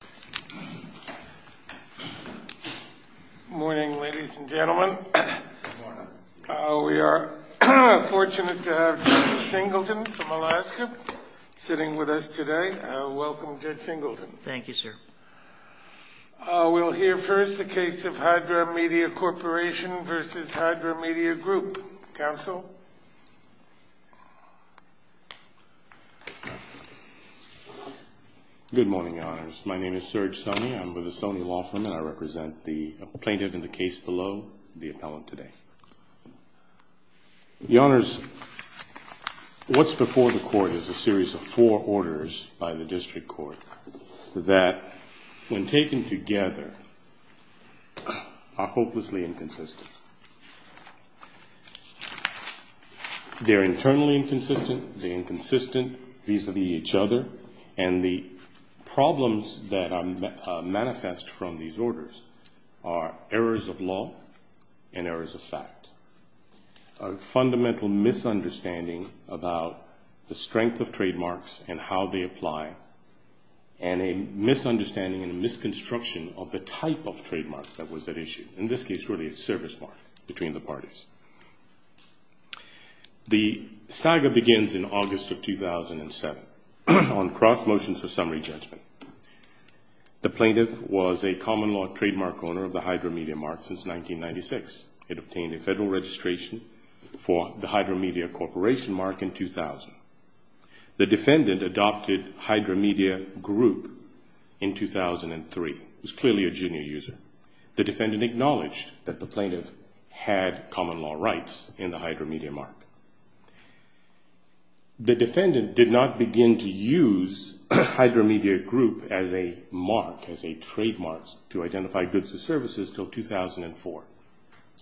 Good morning, ladies and gentlemen. We are fortunate to have Judge Singleton from Alaska sitting with us today. Welcome, Judge Singleton. Thank you, sir. We'll hear first the case of Hydra Media Corporation v. Hydra Media Group. Counsel? Good morning, Your Honors. My name is Serge Sonny. I'm with the Sonny Law Firm, and I represent the plaintiff in the case below, the appellant today. Your Honors, what's before the court is a series of four orders by the district court that, when taken together, are hopelessly inconsistent. They're internally inconsistent, they're inconsistent vis-a-vis each other, and the problems that manifest from these orders are errors of law and errors of fact. A fundamental misunderstanding about the strength of trademarks and how they apply, and a misunderstanding and misconstruction of the type of trademark that was at issue. In this case, really, it's service mark between the parties. The saga begins in August of 2007 on cross-motion for summary judgment. The plaintiff was a common law trademark owner of the Hydra Media Mark since 1996. It obtained a federal registration for the Hydra Media Corporation Mark in 2000. The defendant adopted Hydra Media Group in 2003. It was clearly a junior user. The defendant acknowledged that the plaintiff had common law rights in the Hydra Media Mark. The defendant did not begin to use Hydra Media Group as a mark, as a trademark, to identify goods or services until 2004.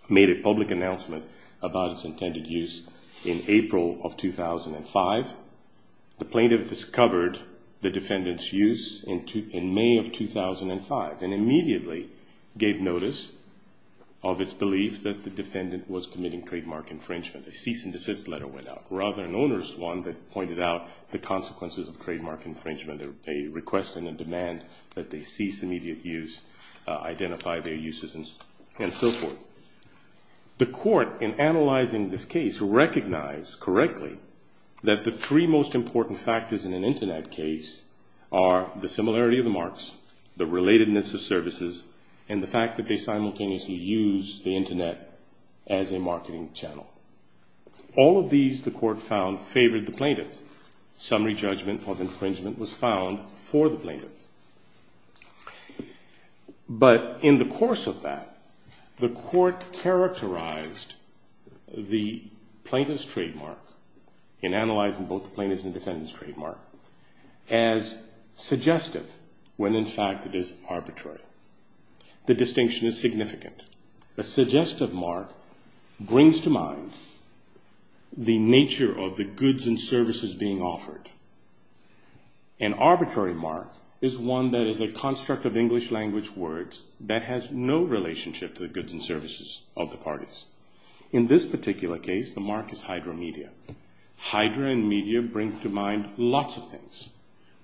Made a public announcement about its intended use in April of 2005. The plaintiff discovered the defendant's use in May of 2005 and immediately gave notice of its belief that the defendant was committing trademark infringement. A cease and desist letter went out. Rather, an owner's one that pointed out the consequences of trademark infringement, a request and a demand that they cease immediate use, identify their uses, and so forth. The court, in analyzing this case, recognized correctly that the three most important factors in an Internet case are the similarity of the marks, the relatedness of services, and the fact that they simultaneously use the Internet as a marketing channel. All of these, the court found, favored the plaintiff. Summary judgment of infringement was found for the plaintiff. But in the course of that, the court characterized the plaintiff's trademark, in analyzing both the plaintiff's and defendant's trademark, as suggestive when in fact it is arbitrary. The distinction is significant. A suggestive mark brings to mind the nature of the goods and services being offered. An arbitrary mark is one that is a construct of English language words that has no relationship to the goods and services of the parties. In this particular case, the mark is Hydra Media. Hydra and Media bring to mind lots of things,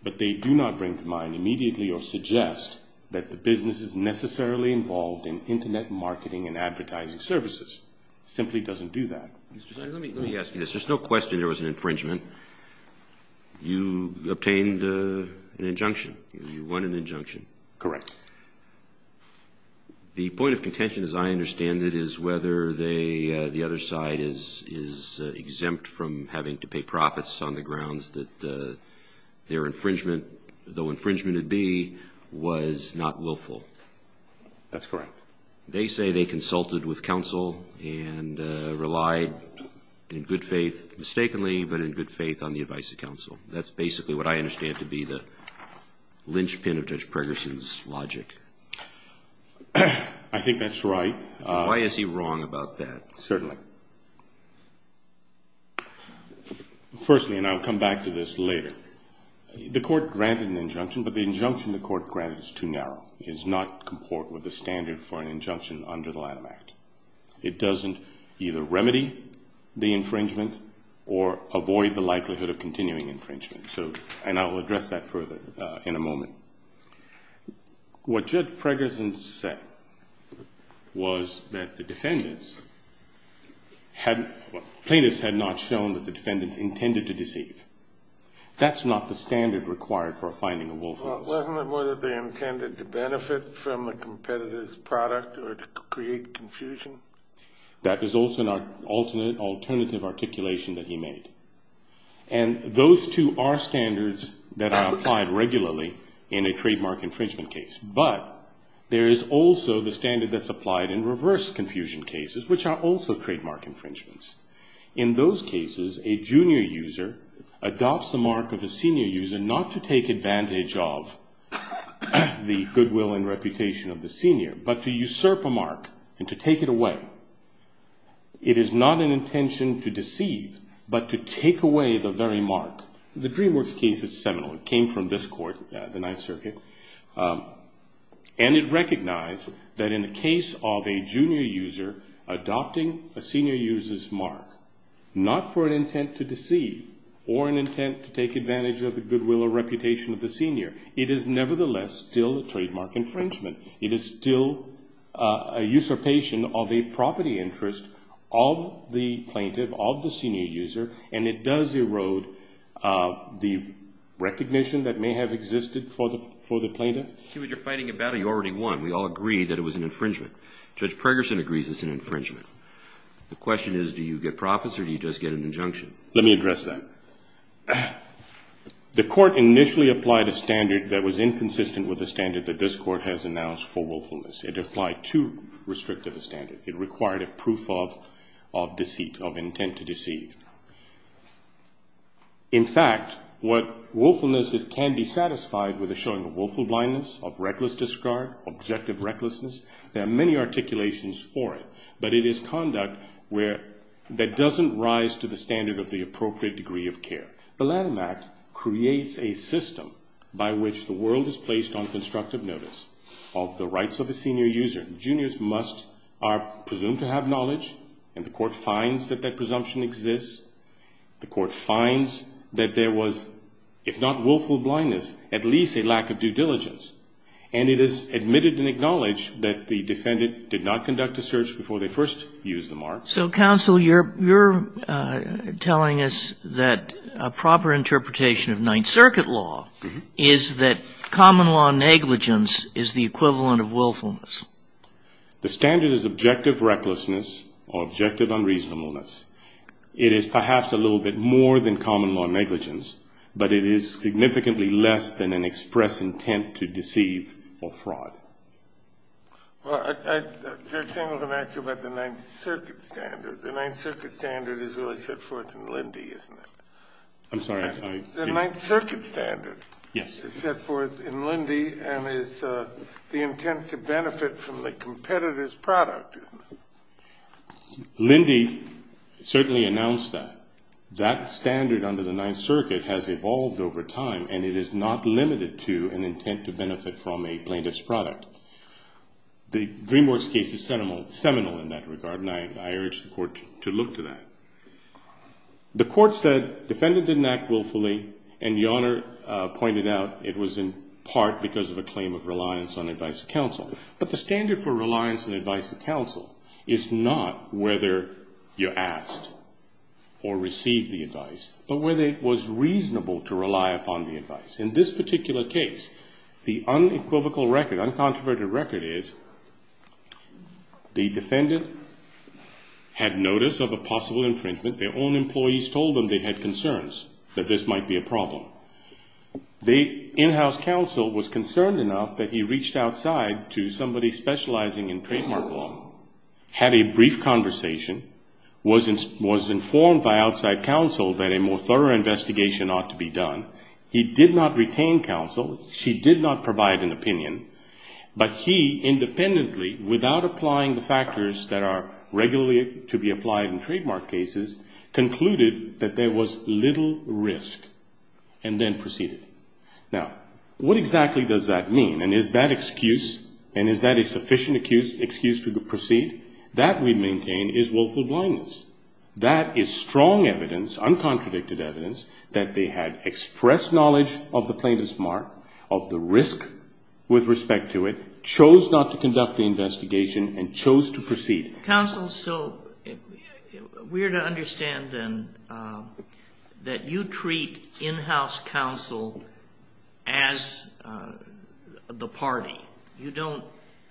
but they do not bring to mind immediately or suggest that the business is necessarily involved in Internet marketing and advertising services. It simply doesn't do that. Let me ask you this. There's no question there was an infringement. You obtained an injunction. You won an injunction. Correct. The point of contention, as I understand it, is whether the other side is exempt from having to pay profits on the grounds that their infringement, though infringement it be, was not willful. That's correct. They say they consulted with counsel and relied in good faith, mistakenly, but in good faith on the advice of counsel. That's basically what I understand to be the linchpin of Judge Pregerson's logic. I think that's right. Why is he wrong about that? Certainly. Firstly, and I'll come back to this later, the court granted an injunction, but the injunction the court granted is too narrow. It does not comport with the standard for an injunction under the Lanham Act. It doesn't either remedy the infringement or avoid the likelihood of continuing infringement, and I will address that further in a moment. What Judge Pregerson said was that the defendants, plaintiffs had not shown that the defendants intended to deceive. That's not the standard required for a finding of willfulness. Wasn't it more that they intended to benefit from a competitor's product or to create confusion? That is also an alternative articulation that he made, and those two are standards that are applied regularly in a trademark infringement case, but there is also the standard that's applied in reverse confusion cases, which are also trademark infringements. In those cases, a junior user adopts the mark of a senior user not to take advantage of the goodwill and reputation of the senior, but to usurp a mark and to take it away. It is not an intention to deceive, but to take away the very mark. The DreamWorks case is seminal. It came from this court, the Ninth Circuit, and it recognized that in the case of a junior user adopting a senior user's mark not for an intent to deceive or an intent to take advantage of the goodwill or reputation of the senior. It is nevertheless still a trademark infringement. It is still a usurpation of a property interest of the plaintiff, of the senior user, and it does erode the recognition that may have existed for the plaintiff. We all agree that it was an infringement. Judge Pregerson agrees it's an infringement. The question is, do you get profits or do you just get an injunction? Let me address that. The court initially applied a standard that was inconsistent with the standard that this court has announced for willfulness. There are many articulations for it, but it is conduct that doesn't rise to the standard of the appropriate degree of care. The Lanham Act creates a system by which the world is placed on constructive notice of the rights of a senior user. The court finds that there was, if not willful blindness, at least a lack of due diligence, and it is admitted and acknowledged that the defendant did not conduct a search before they first used the mark. So, counsel, you're telling us that a proper interpretation of Ninth Circuit law is that common law negligence is the equivalent of willfulness. The standard is objective recklessness or objective unreasonableness. It is perhaps a little bit more than common law negligence, but it is significantly less than an express intent to deceive or fraud. Well, I was going to ask you about the Ninth Circuit standard. The Ninth Circuit standard is really set forth in Lindy, isn't it? I'm sorry. The Ninth Circuit standard is set forth in Lindy and is the intent to benefit from the competitor's product, isn't it? Lindy certainly announced that. That standard under the Ninth Circuit has evolved over time, and it is not limited to an intent to benefit from a plaintiff's product. The DreamWorks case is seminal in that regard, and I urge the court to look to that. The court said defendant didn't act willfully, and the Honor pointed out it was in part because of a claim of reliance on advice of counsel. But the standard for reliance and advice of counsel is not whether you asked or received the advice, but whether it was reasonable to rely upon the advice. In this particular case, the unequivocal record, uncontroverted record is the defendant had notice of a possible infringement. Their own employees told them they had concerns that this might be a problem. The in-house counsel was concerned enough that he reached outside to somebody specializing in trademark law, had a brief conversation, was informed by outside counsel that a more thorough investigation ought to be done. He did not retain counsel. She did not provide an opinion. But he independently, without applying the factors that are regularly to be applied in trademark cases, concluded that there was little risk, and then proceeded. Now, what exactly does that mean, and is that excuse, and is that a sufficient excuse to proceed? That, we maintain, is willful blindness. That is strong evidence, uncontradicted evidence, that they had expressed knowledge of the plaintiff's mark, of the risk with respect to it, chose not to conduct the investigation, and chose to proceed. Counsel, so we're to understand, then, that you treat in-house counsel as the party. You don't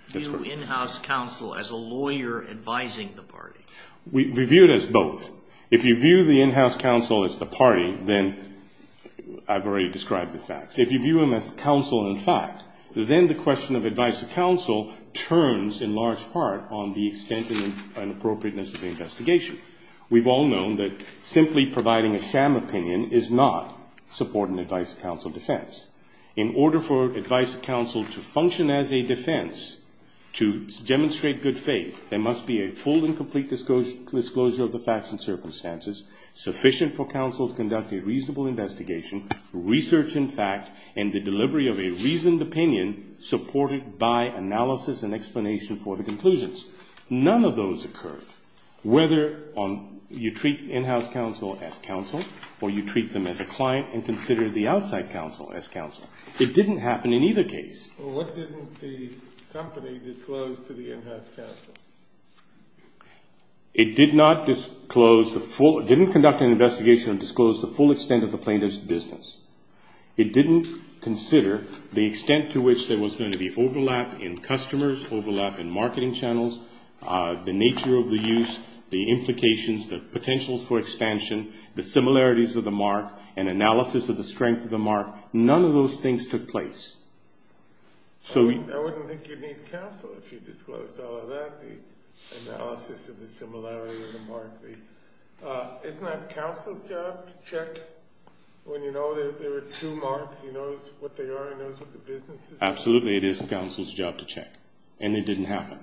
view in-house counsel as a lawyer advising the party. We view it as both. If you view the in-house counsel as the party, then I've already described the facts. If you view them as counsel and fact, then the question of advice to counsel turns, in large part, on the extent and appropriateness of the investigation. We've all known that simply providing a sham opinion is not supporting advice to counsel defense. In order for advice to counsel to function as a defense, to the facts and circumstances, sufficient for counsel to conduct a reasonable investigation, research in fact, and the delivery of a reasoned opinion, supported by analysis and explanation for the conclusions. None of those occur, whether you treat in-house counsel as counsel, or you treat them as a client and consider the outside counsel as counsel. It didn't happen in either case. It did not disclose the full, didn't conduct an investigation and disclose the full extent of the plaintiff's business. It didn't consider the extent to which there was going to be overlap in customers, overlap in marketing channels, the nature of the use, the implications, the potentials for expansion, the similarities of the mark, and analysis of the strength of the mark. None of those things took place. I wouldn't think you'd need counsel if you disclosed all of that, the analysis of the similarity of the mark. Isn't that counsel's job to check when you know there are two marks, he knows what they are, he knows what the business is? Absolutely, it is counsel's job to check, and it didn't happen.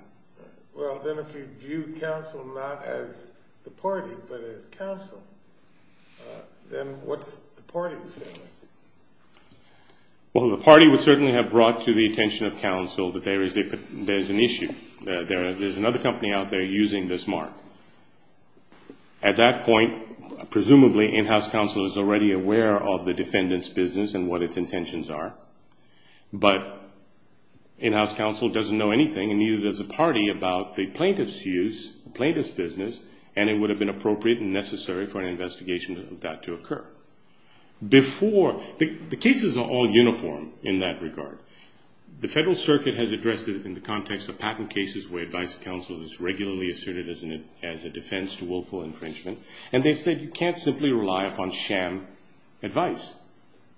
Well, then if you view counsel not as the party, but as counsel, then what's the party's feeling? Well, the party would certainly have brought to the attention of counsel that there is an issue, that there is another company out there using this mark. At that point, presumably in-house counsel is already aware of the defendant's business and what its intentions are, but in-house counsel doesn't know anything, and neither does the party, about the plaintiff's use, the plaintiff's business, and it would have been appropriate and necessary for an investigation of that to occur. The cases are all uniform in that regard. The Federal Circuit has addressed it in the context of patent cases where advice to counsel is regularly asserted as a defense to willful infringement, and they've said you can't simply rely upon sham advice.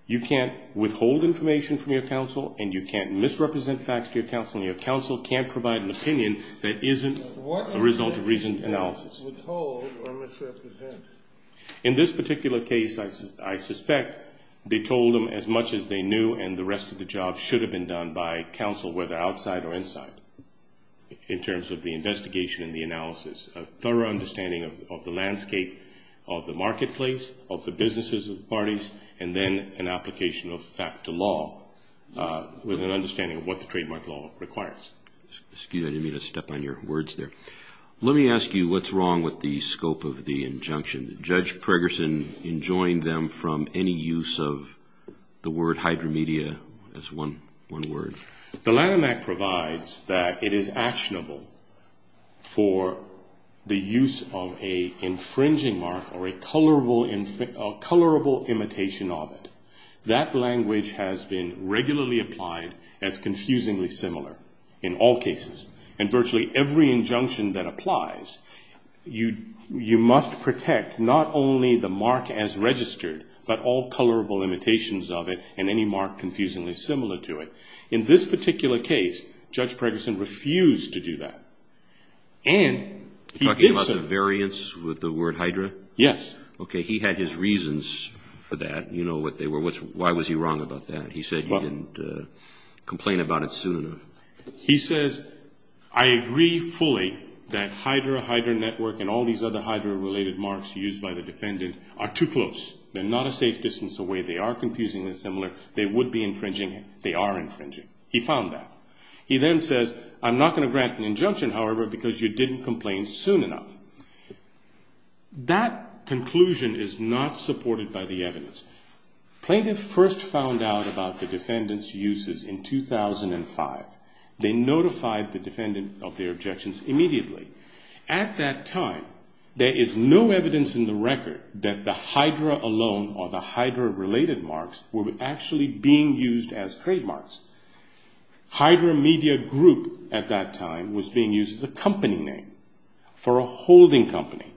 You can't withhold information from your counsel, and you can't misrepresent facts to your counsel, and your counsel can't provide an opinion that isn't a result of reasoned analysis. In this particular case, I suspect they told them as much as they knew, and the rest of the job should have been done by counsel, whether outside or inside, in terms of the investigation and the analysis, a thorough understanding of the landscape of the marketplace, of the businesses of the parties, and then an application of fact to law, with an understanding of what the trademark law requires. Excuse me, I didn't mean to step on your words there. Let me ask you, what's wrong with the scope of the injunction? Did Judge Pregerson enjoin them from any use of the word hydromedia as one word? The Lanham Act provides that it is actionable for the use of an infringing mark or a colorable imitation of it. That language has been regularly applied as confusingly similar in all cases, and virtually every injunction that applies, you must protect not only the mark as registered, but all colorable imitations of it and any mark confusingly similar to it. In this particular case, Judge Pregerson refused to do that, and he did so. Was there a variance with the word hydra? Yes. Okay, he had his reasons for that. You know what they were. Why was he wrong about that? He said you didn't complain about it soon enough. He says, I agree fully that hydra, hydra network, and all these other hydra-related marks used by the defendant are too close. They're not a safe distance away. They are confusingly similar. They would be infringing. They are infringing. He found that. He then says, I'm not going to grant an injunction, however, because you didn't complain soon enough. That conclusion is not supported by the evidence. Plaintiff first found out about the defendant's uses in 2005. They notified the defendant of their objections immediately. At that time, there is no evidence in the record that the hydra alone or the hydra-related marks were actually being used as trademarks. Hydra Media Group at that time was being used as a company name for a holding company.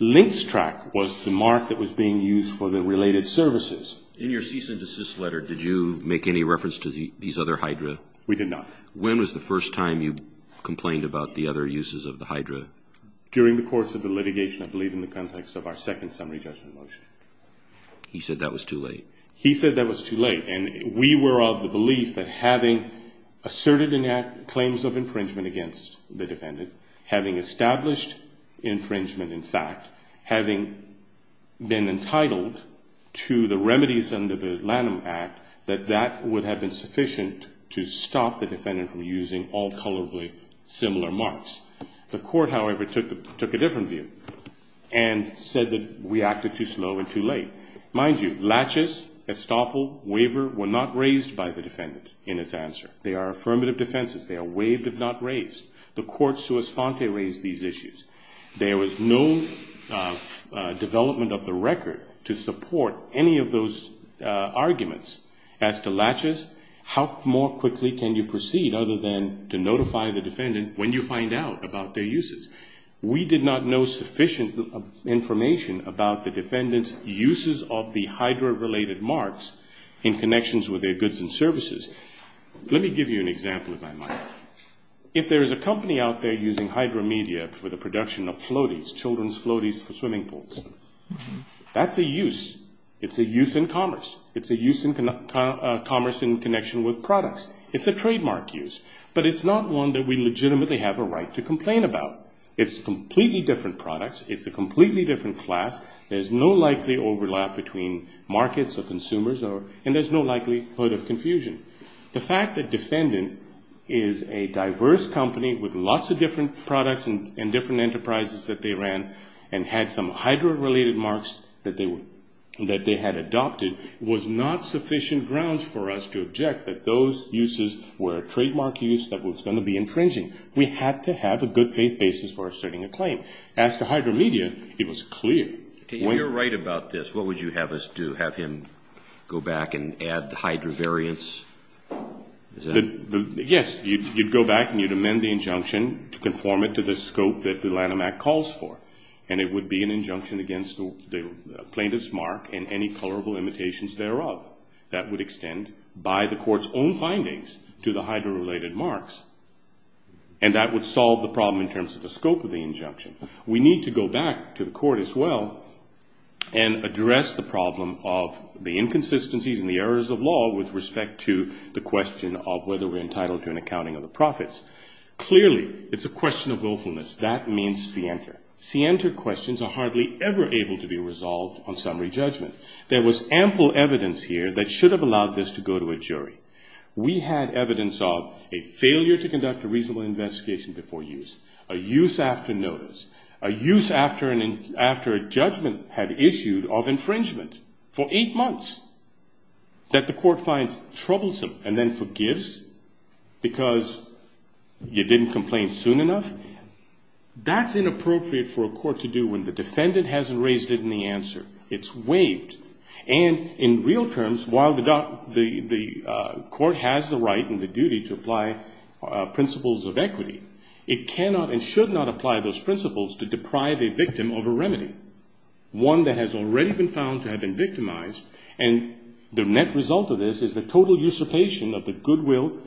Linkstrak was the mark that was being used for the related services. In your cease and desist letter, did you make any reference to these other hydra? During the course of the litigation, I believe in the context of our second summary judgment motion. He said that was too late. He said that was too late, and we were of the belief that having asserted claims of infringement against the defendant, having established infringement, in fact, having been entitled to the remedies under the Lanham Act, that that would have been sufficient to stop the defendant from using all colorably similar marks. The court, however, took a different view and said that we acted too slow and too late. Mind you, laches, estoppel, waiver were not raised by the defendant in its answer. They are affirmative defenses. They are waived if not raised. The court sua sponte raised these issues. There was no development of the record to support any of those arguments as to laches. How more quickly can you proceed other than to notify the defendant when you find out about their uses? We did not know sufficient information about the defendant's uses of the hydra-related marks in connections with their goods and services. Let me give you an example, if I might. If there is a company out there using hydra media for the production of floaties, children's floaties for swimming pools, that's a use. It's a use in commerce. It's a use in commerce in connection with products. It's a trademark use, but it's not one that we legitimately have a right to complain about. It's completely different products. It's a completely different class. There's no likely overlap between markets or consumers, and there's no likelihood of confusion. The fact that defendant is a diverse company with lots of different products and different enterprises that they ran and had some hydra-related marks that they had adopted was not sufficient grounds for us to object that those uses were a trademark use that was going to be infringing. We had to have a good faith basis for asserting a claim. As to hydra media, it was clear. If you're right about this, what would you have us do? Have him go back and add the hydra variance? Yes, you'd go back and amend the injunction to conform it to the scope that the Lanham Act calls for. It would be an injunction against the plaintiff's mark and any colorable imitations thereof. That would extend by the court's own findings to the hydra-related marks. And that would solve the problem in terms of the scope of the injunction. We need to go back to the court as well and address the problem of the inconsistencies and the errors of law with respect to the question of whether we're entitled to an accounting of the profits. Clearly, it's a question of willfulness. That means scienter. Scienter questions are hardly ever able to be resolved on summary judgment. There was ample evidence here that should have allowed this to go to a jury. We had evidence of a failure to conduct a reasonable investigation before use, a use after notice, a use after a judgment had issued of infringement for eight months that the court finds troublesome and then forgives because you didn't complain soon enough. That's inappropriate for a court to do when the defendant hasn't raised it in the answer. It's waived. And in real terms, while the court has the right and the duty to apply principles of equity, it cannot and should not apply those principles to deprive a victim of a remedy, one that has already been found to have been victimized. And the net result of this is the total usurpation of the goodwill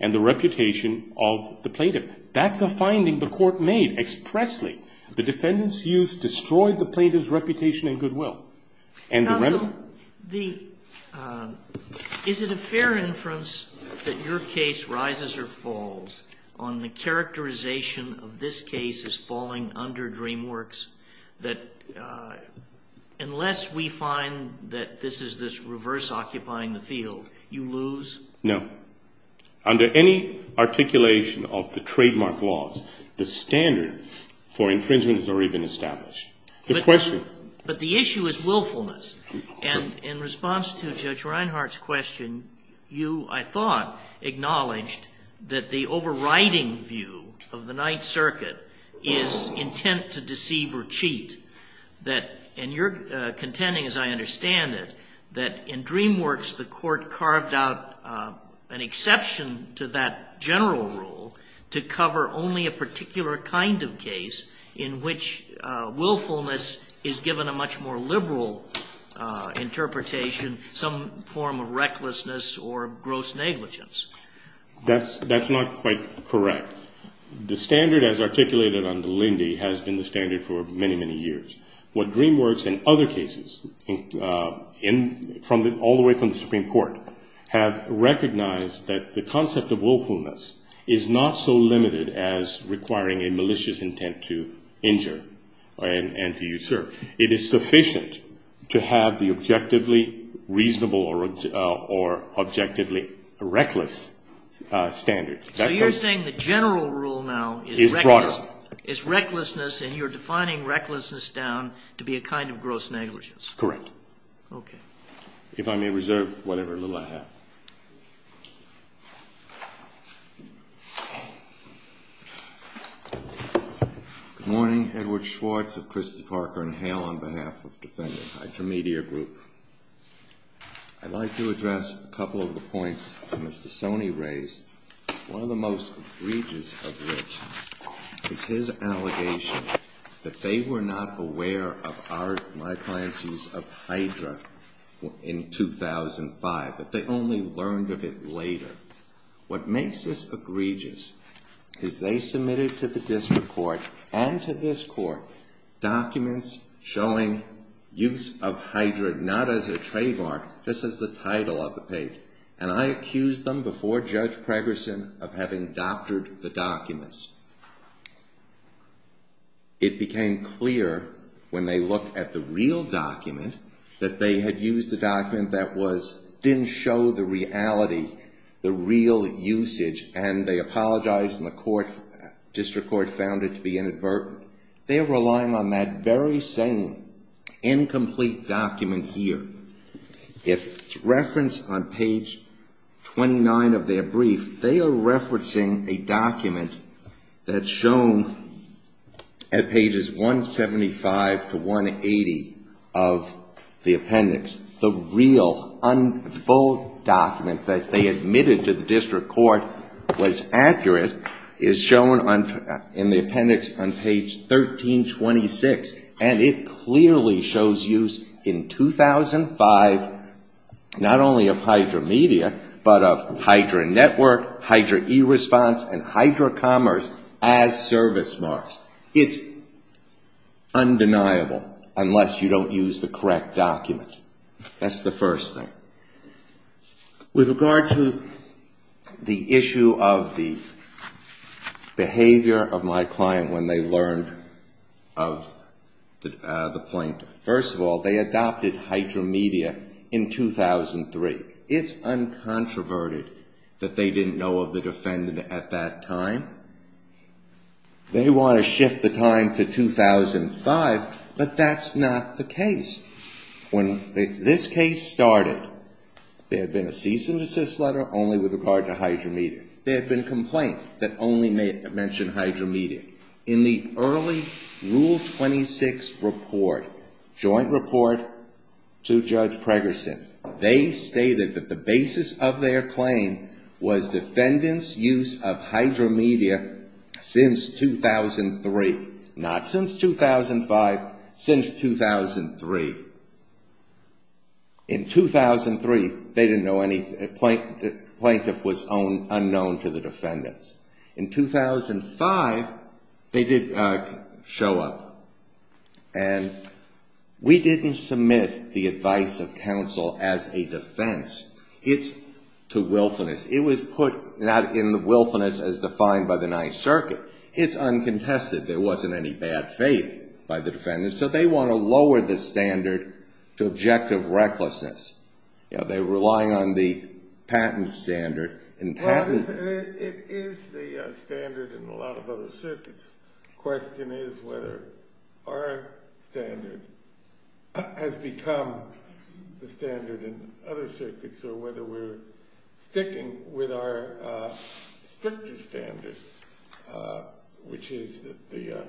and the reputation of the plaintiff. That's a finding the court made expressly. The defendant's use destroyed the plaintiff's reputation and goodwill. Counsel, is it a fair inference that your case rises or falls on the characterization of this case as falling under DreamWorks that unless we find that this is this reverse occupying the field, you lose? No. Under any articulation of the trademark laws, the standard for infringement has already been established. But the issue is willfulness. And in response to Judge Reinhart's question, you, I thought, acknowledged that the overriding view of the Ninth Circuit is intent to deceive or cheat. And you're contending, as I understand it, that in DreamWorks the court carved out an exception to that general rule to cover only a particular kind of case in which willfulness is given a much more liberal interpretation, some form of recklessness or gross negligence. That's not quite correct. The standard as articulated under Lindy has been the standard for many, many years. What DreamWorks and other cases, all the way from the Supreme Court, have recognized that the concept of willfulness is not so limited as requiring a malicious intent to injure and to usurp. It is sufficient to have the objectively reasonable or objectively reckless standard. So you're saying the general rule now is recklessness, and you're defining recklessness down to be a kind of gross negligence. Correct. If I may reserve whatever little I have. Good morning. Edward Schwartz of Christie, Parker & Hale on behalf of Defendant Hydromedia Group. I'd like to address a couple of the points that Mr. Sony raised. One of the most egregious of which is his allegation that they were not aware of my client's use of Hydra in 2005, that they only learned of it later. What makes this egregious is they submitted to the district court and to this court documents showing use of Hydra, not only as a trademark, just as the title of the page. And I accused them before Judge Pregerson of having doctored the documents. It became clear when they looked at the real document that they had used a document that didn't show the reality, the real usage, and they apologized and the district court found it to be inadvertent. They're relying on that very same incomplete document here. If it's referenced on page 29 of their brief, they are referencing a document that's shown at pages 175 to 180 of the appendix. The real, full document that they admitted to the district court was accurate is shown in the appendix on page 29 of their brief. And it clearly shows use in 2005, not only of Hydra Media, but of Hydra Network, Hydra E-Response, and Hydra Commerce as service marks. It's undeniable, unless you don't use the correct document. That's the first thing. With regard to the issue of the behavior of my client when they learned of my client's use of Hydra in 2005, I'm not going to go into the details of that. I'm going to go into the details of the behavior of the plaintiff. First of all, they adopted Hydra Media in 2003. It's uncontroverted that they didn't know of the defendant at that time. They want to shift the time to 2005, but that's not the case. When this case started, there had been a cease and desist letter only with regard to Hydra Media. There had been a complaint that only mentioned Hydra Media. In the early stages of the case, there was a joint rule 26 report, joint report to Judge Pregerson. They stated that the basis of their claim was defendants' use of Hydra Media since 2003, not since 2005, since 2003. In 2003, they didn't know anything. The plaintiff was unknown to the defendants. In 2005, they didn't know anything. We didn't submit the advice of counsel as a defense. It's to willfulness. It was put not in the willfulness as defined by the Ninth Circuit. It's uncontested. There wasn't any bad faith by the defendants, so they want to lower the standard to objective recklessness. They're relying on the patent standard. It is the standard in a lot of other circuits. The question is whether our standard has become the standard in other circuits or whether we're sticking with our stricter standards, which is the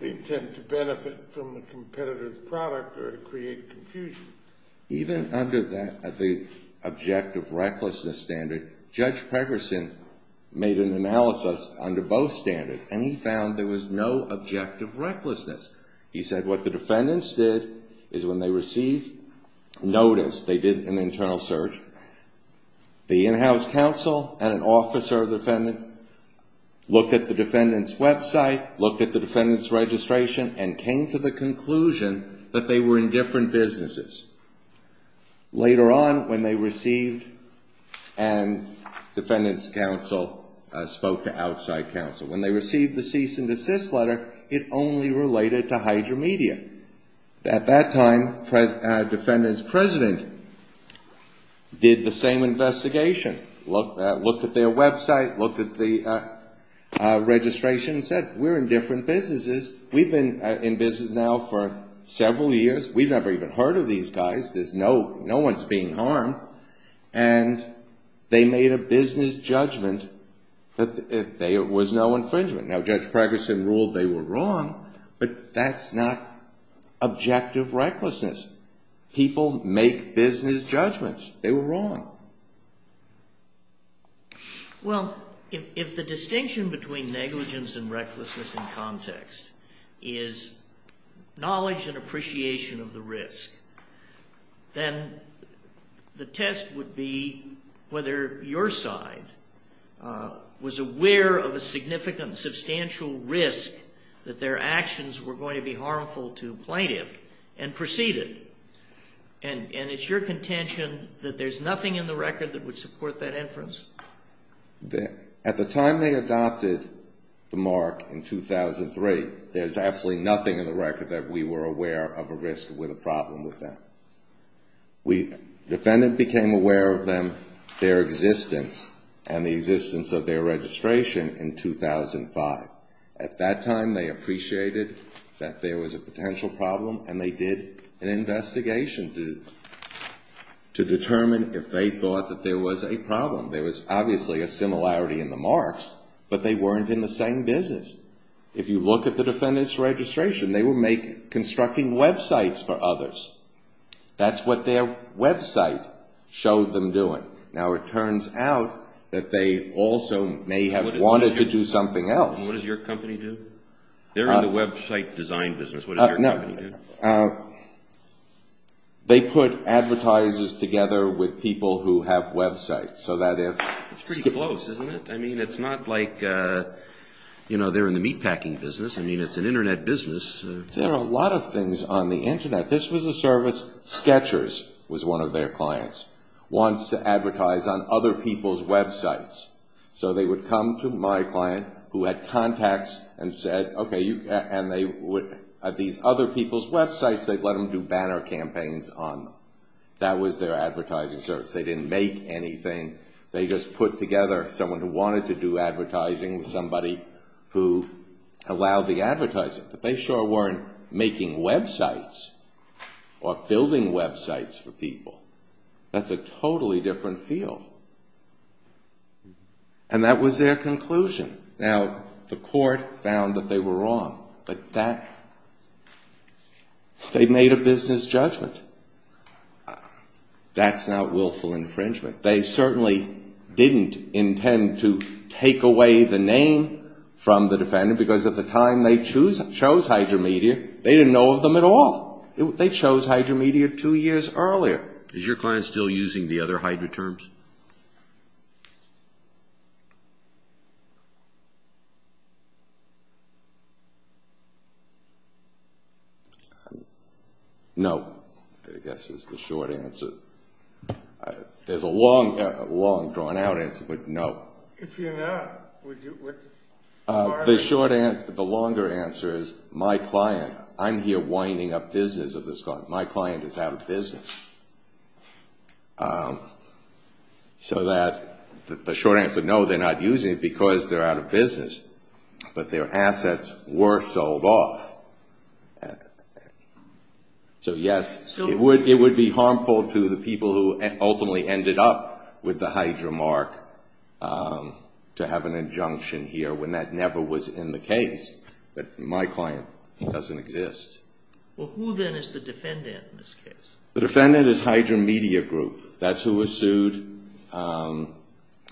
intent to benefit from the competitor's product or to create confusion. Even under the objective recklessness standard, Judge Pregerson made an analysis under both standards, and he found there was no objective recklessness. He said what the defendants did is when they received notice, they did an internal search, the in-house counsel and an officer of the defendant looked at the defendant's website, looked at the defendant's registration, and came to the conclusion that they were in different businesses. Later on, when they received, and defendant's counsel spoke to outside counsel, when they received the cease and desist letter, it only related to Hydro Media. At that time, defendant's president did the same investigation, looked at their website, looked at the registration, and said we're in different businesses. We've been in business now for several years. We've never even heard of these guys. No one's being harmed. And they made a business judgment that there was no infringement. Now, Judge Pregerson ruled they were wrong, but that's not objective recklessness. People make business judgments. They were wrong. Well, if the distinction between negligence and recklessness in context is knowledge and appreciation of the risk, then the test would be whether your side was aware of a significant, substantial risk that their actions were going to be harmful to a plaintiff and proceeded. And it's your contention that there's nothing in the record that would support that inference? to determine if they thought that there was a problem. There was obviously a similarity in the marks, but they weren't in the same business. If you look at the defendant's registration, they were constructing websites for others. That's what their website showed them doing. Now, it turns out that they also may have wanted to do something else. They're in the website design business. What does your company do? They put advertisers together with people who have websites. It's pretty close, isn't it? I mean, it's not like they're in the meatpacking business. I mean, it's an Internet business. There are a lot of things on the Internet. This was a service. Sketchers was one of their clients, wants to advertise on other people's websites. So they would come to my client, who had contacts, and said, okay, at these other people's websites, they'd let them do banner campaigns on them. That was their advertising service. They didn't make anything. They just put together someone who wanted to do advertising with somebody who allowed the advertising. But they sure weren't making websites or building websites for people. That's a totally different field. And that was their conclusion. Now, the court found that they were wrong. But they made a business judgment. That's not willful infringement. They certainly didn't intend to take away the name from the defendant because at the time they chose Hydromedia, they didn't know of them at all. They chose Hydromedia two years earlier. Is your client still using the other Hydro terms? No, I guess is the short answer. There's a long, drawn out answer, but no. If you're not, what's the short answer? Well, who then is the defendant in this case? The defendant is Hydromedia Group. That's who was sued,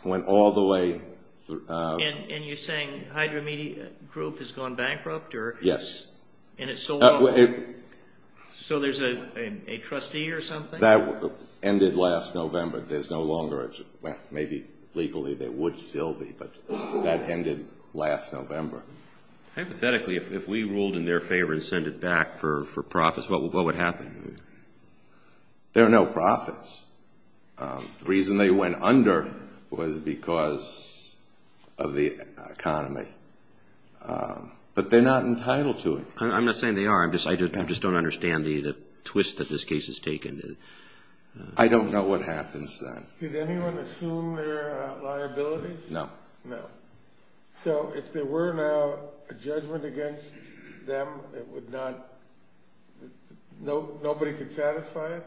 went all the way. And you're saying Hydromedia Group has gone bankrupt? Yes. So there's a trustee or something? Hypothetically, if we ruled in their favor and sent it back for profits, what would happen? There are no profits. The reason they went under was because of the economy. But they're not entitled to it. I'm not saying they are. I just don't understand the twist that this case has taken. I don't know what happens then. Did anyone assume their liabilities? No. No. So if there were now a judgment against them, nobody could satisfy it?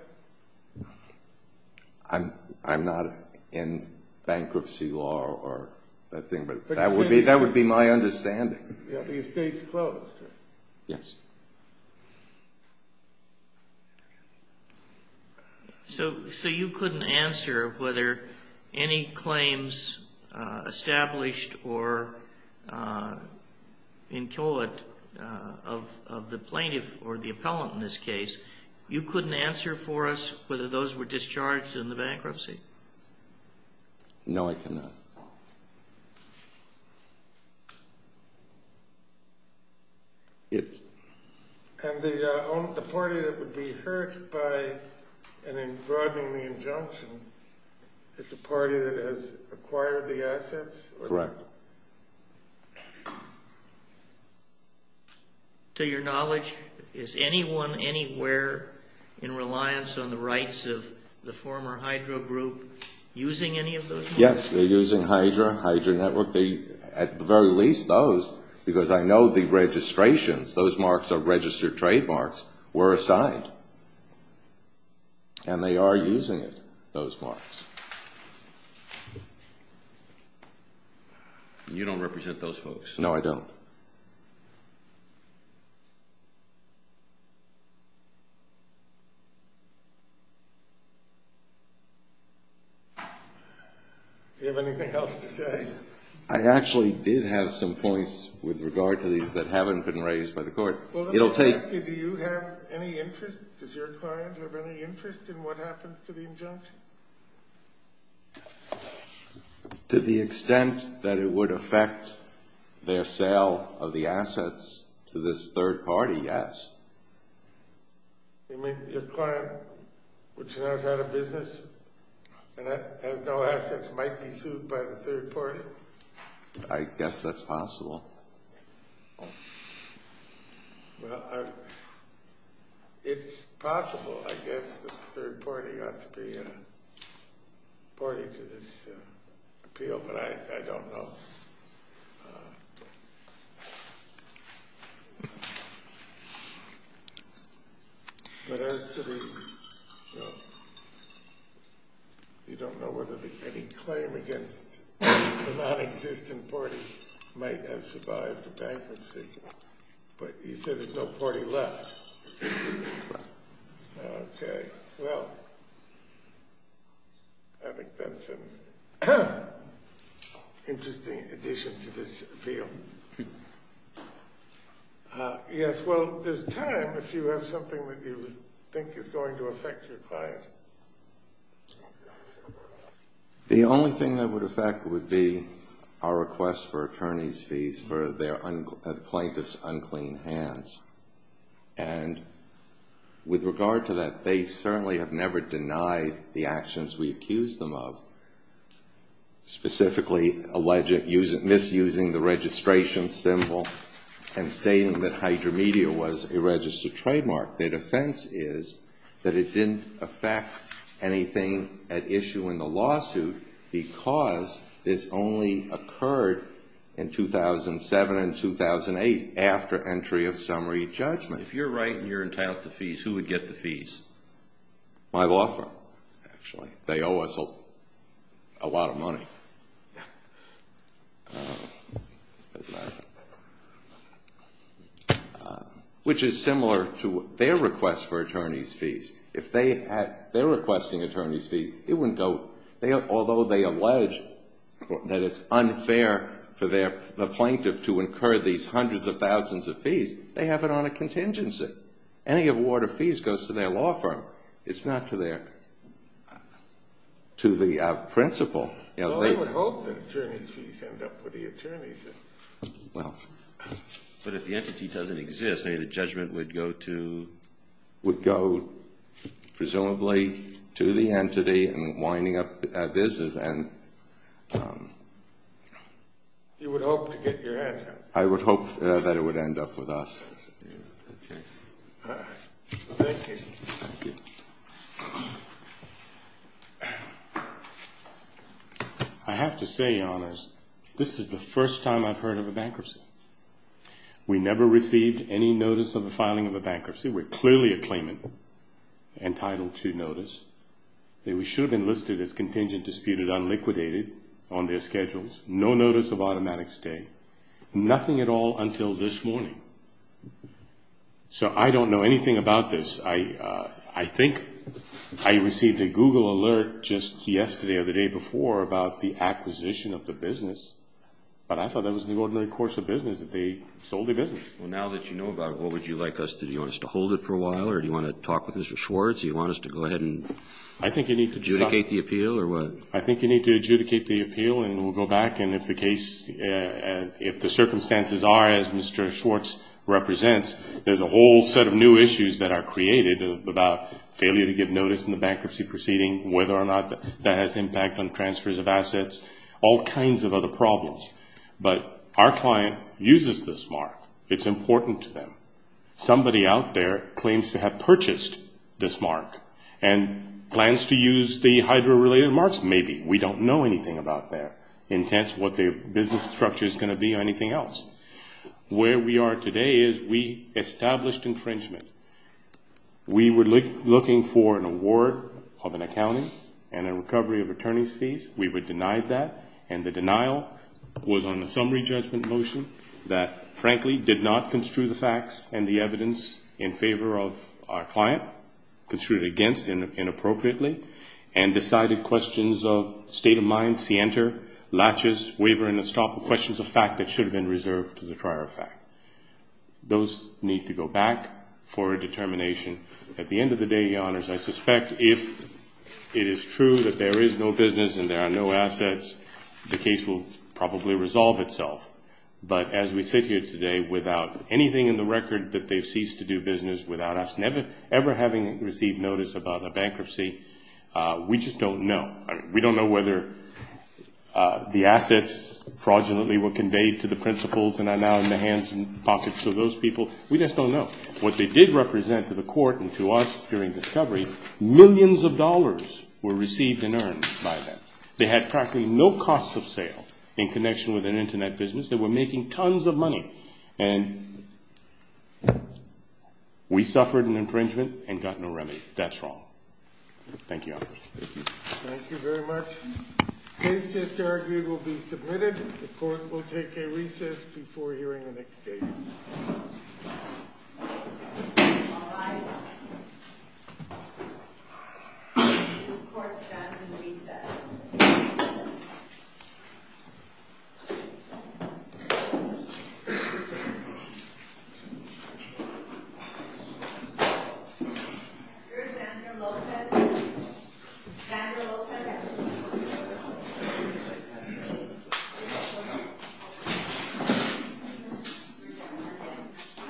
I'm not in bankruptcy law or that thing, but that would be my understanding. The estate's closed? Yes. So you couldn't answer whether any claims established or in court of the plaintiff or the appellant in this case, you couldn't answer for us whether those were discharged in the bankruptcy? No, I cannot. And the party that would be hurt by an encroaching injunction is the party that has acquired the assets? Correct. To your knowledge, is anyone anywhere in reliance on the rights of the former Hydra group using any of those? Yes, they're using Hydra, Hydra Network. At the very least, those, because I know the registrations, those marks are registered trademarks, were assigned, and they are using it, those marks. You don't represent those folks? No, I don't. Do you have anything else to say? I actually did have some points with regard to these that haven't been raised by the court. Well, let me ask you, do you have any interest, does your client have any interest in what happens to the injunction? To the extent that it would affect their sale of the assets to this third party, yes. You mean your client, which now is out of business and has no assets, might be sued by the third party? I guess that's possible. Well, it's possible, I guess, that the third party ought to be a party to this appeal, but I don't know. But as to the, well, you don't know whether any claim against the non-existent party might have survived the bankruptcy, but you said there's no party left. Okay, well, I think that's an interesting addition to this appeal. Yes, well, there's time if you have something that you think is going to affect your client. The only thing that would affect would be our request for attorney's fees for the plaintiff's unclean hands. And with regard to that, they certainly have never denied the actions we accused them of, specifically alleging, misusing the registration symbol and saying that Hydromedia was a registered trademark. Their defense is that it didn't affect anything at issue in the lawsuit because this only occurred in 2007 and 2008 after entry of summary judgment. If you're right and you're entitled to fees, who would get the fees? My law firm, actually. They owe us a lot of money. Which is similar to their request for attorney's fees. If they're requesting attorney's fees, although they allege that it's unfair for the plaintiff to incur these hundreds of thousands of fees, they have it on a contingency. Any award of fees goes to their law firm. It's not to the principal. Well, I would hope that attorney's fees end up with the attorneys. But if the entity doesn't exist, I mean, the judgment would go to... Would go, presumably, to the entity and winding up business and... You would hope to get your hands on it. I would hope that it would end up with us. Thank you. Thank you. I have to say, Your Honors, this is the first time I've heard of a bankruptcy. We never received any notice of the filing of a bankruptcy. We're clearly a claimant entitled to notice. We should have been listed as contingent, disputed, unliquidated on their schedules. No notice of automatic stay. Nothing at all until this morning. So I don't know anything about this. I think I received a Google alert just yesterday or the day before about the acquisition of the business. But I thought that was an ordinary course of business that they sold the business. Well, now that you know about it, what would you like us to do? Do you want us to hold it for a while or do you want to talk with Mr. Schwartz? Do you want us to go ahead and adjudicate the appeal or what? I think you need to adjudicate the appeal and we'll go back. And if the circumstances are as Mr. Schwartz represents, there's a whole set of new issues that are created about failure to give notice in the bankruptcy proceeding, whether or not that has impact on transfers of assets, all kinds of other problems. But our client uses this mark. It's important to them. Somebody out there claims to have purchased this mark and plans to use the hydro-related marks. Maybe. We don't know anything about their intent, what their business structure is going to be or anything else. Where we are today is we established infringement. We were looking for an award of an accounting and a recovery of attorney's fees. We were denied that, and the denial was on a summary judgment motion that, frankly, did not construe the facts and the evidence in favor of our client, construed it against inappropriately, and decided questions of state of mind, latches, waiver and estoppel, questions of fact that should have been reserved to the prior fact. Those need to go back for a determination. At the end of the day, Your Honors, I suspect if it is true that there is no business and there are no assets, the case will probably resolve itself. But as we sit here today without anything in the record that they've ceased to do business without us ever having received notice about a bankruptcy, we just don't know. We don't know whether the assets fraudulently were conveyed to the principals and are now in the hands and pockets of those people. We just don't know. What they did represent to the court and to us during discovery, millions of dollars were received and earned by them. They had practically no cost of sale in connection with an Internet business. They were making tons of money. And we suffered an infringement and got no remedy. That's wrong. Thank you, Your Honors. Thank you. Thank you very much. The case just argued will be submitted. The court will take a recess before hearing the next case. All rise. This court stands in recess. Thank you.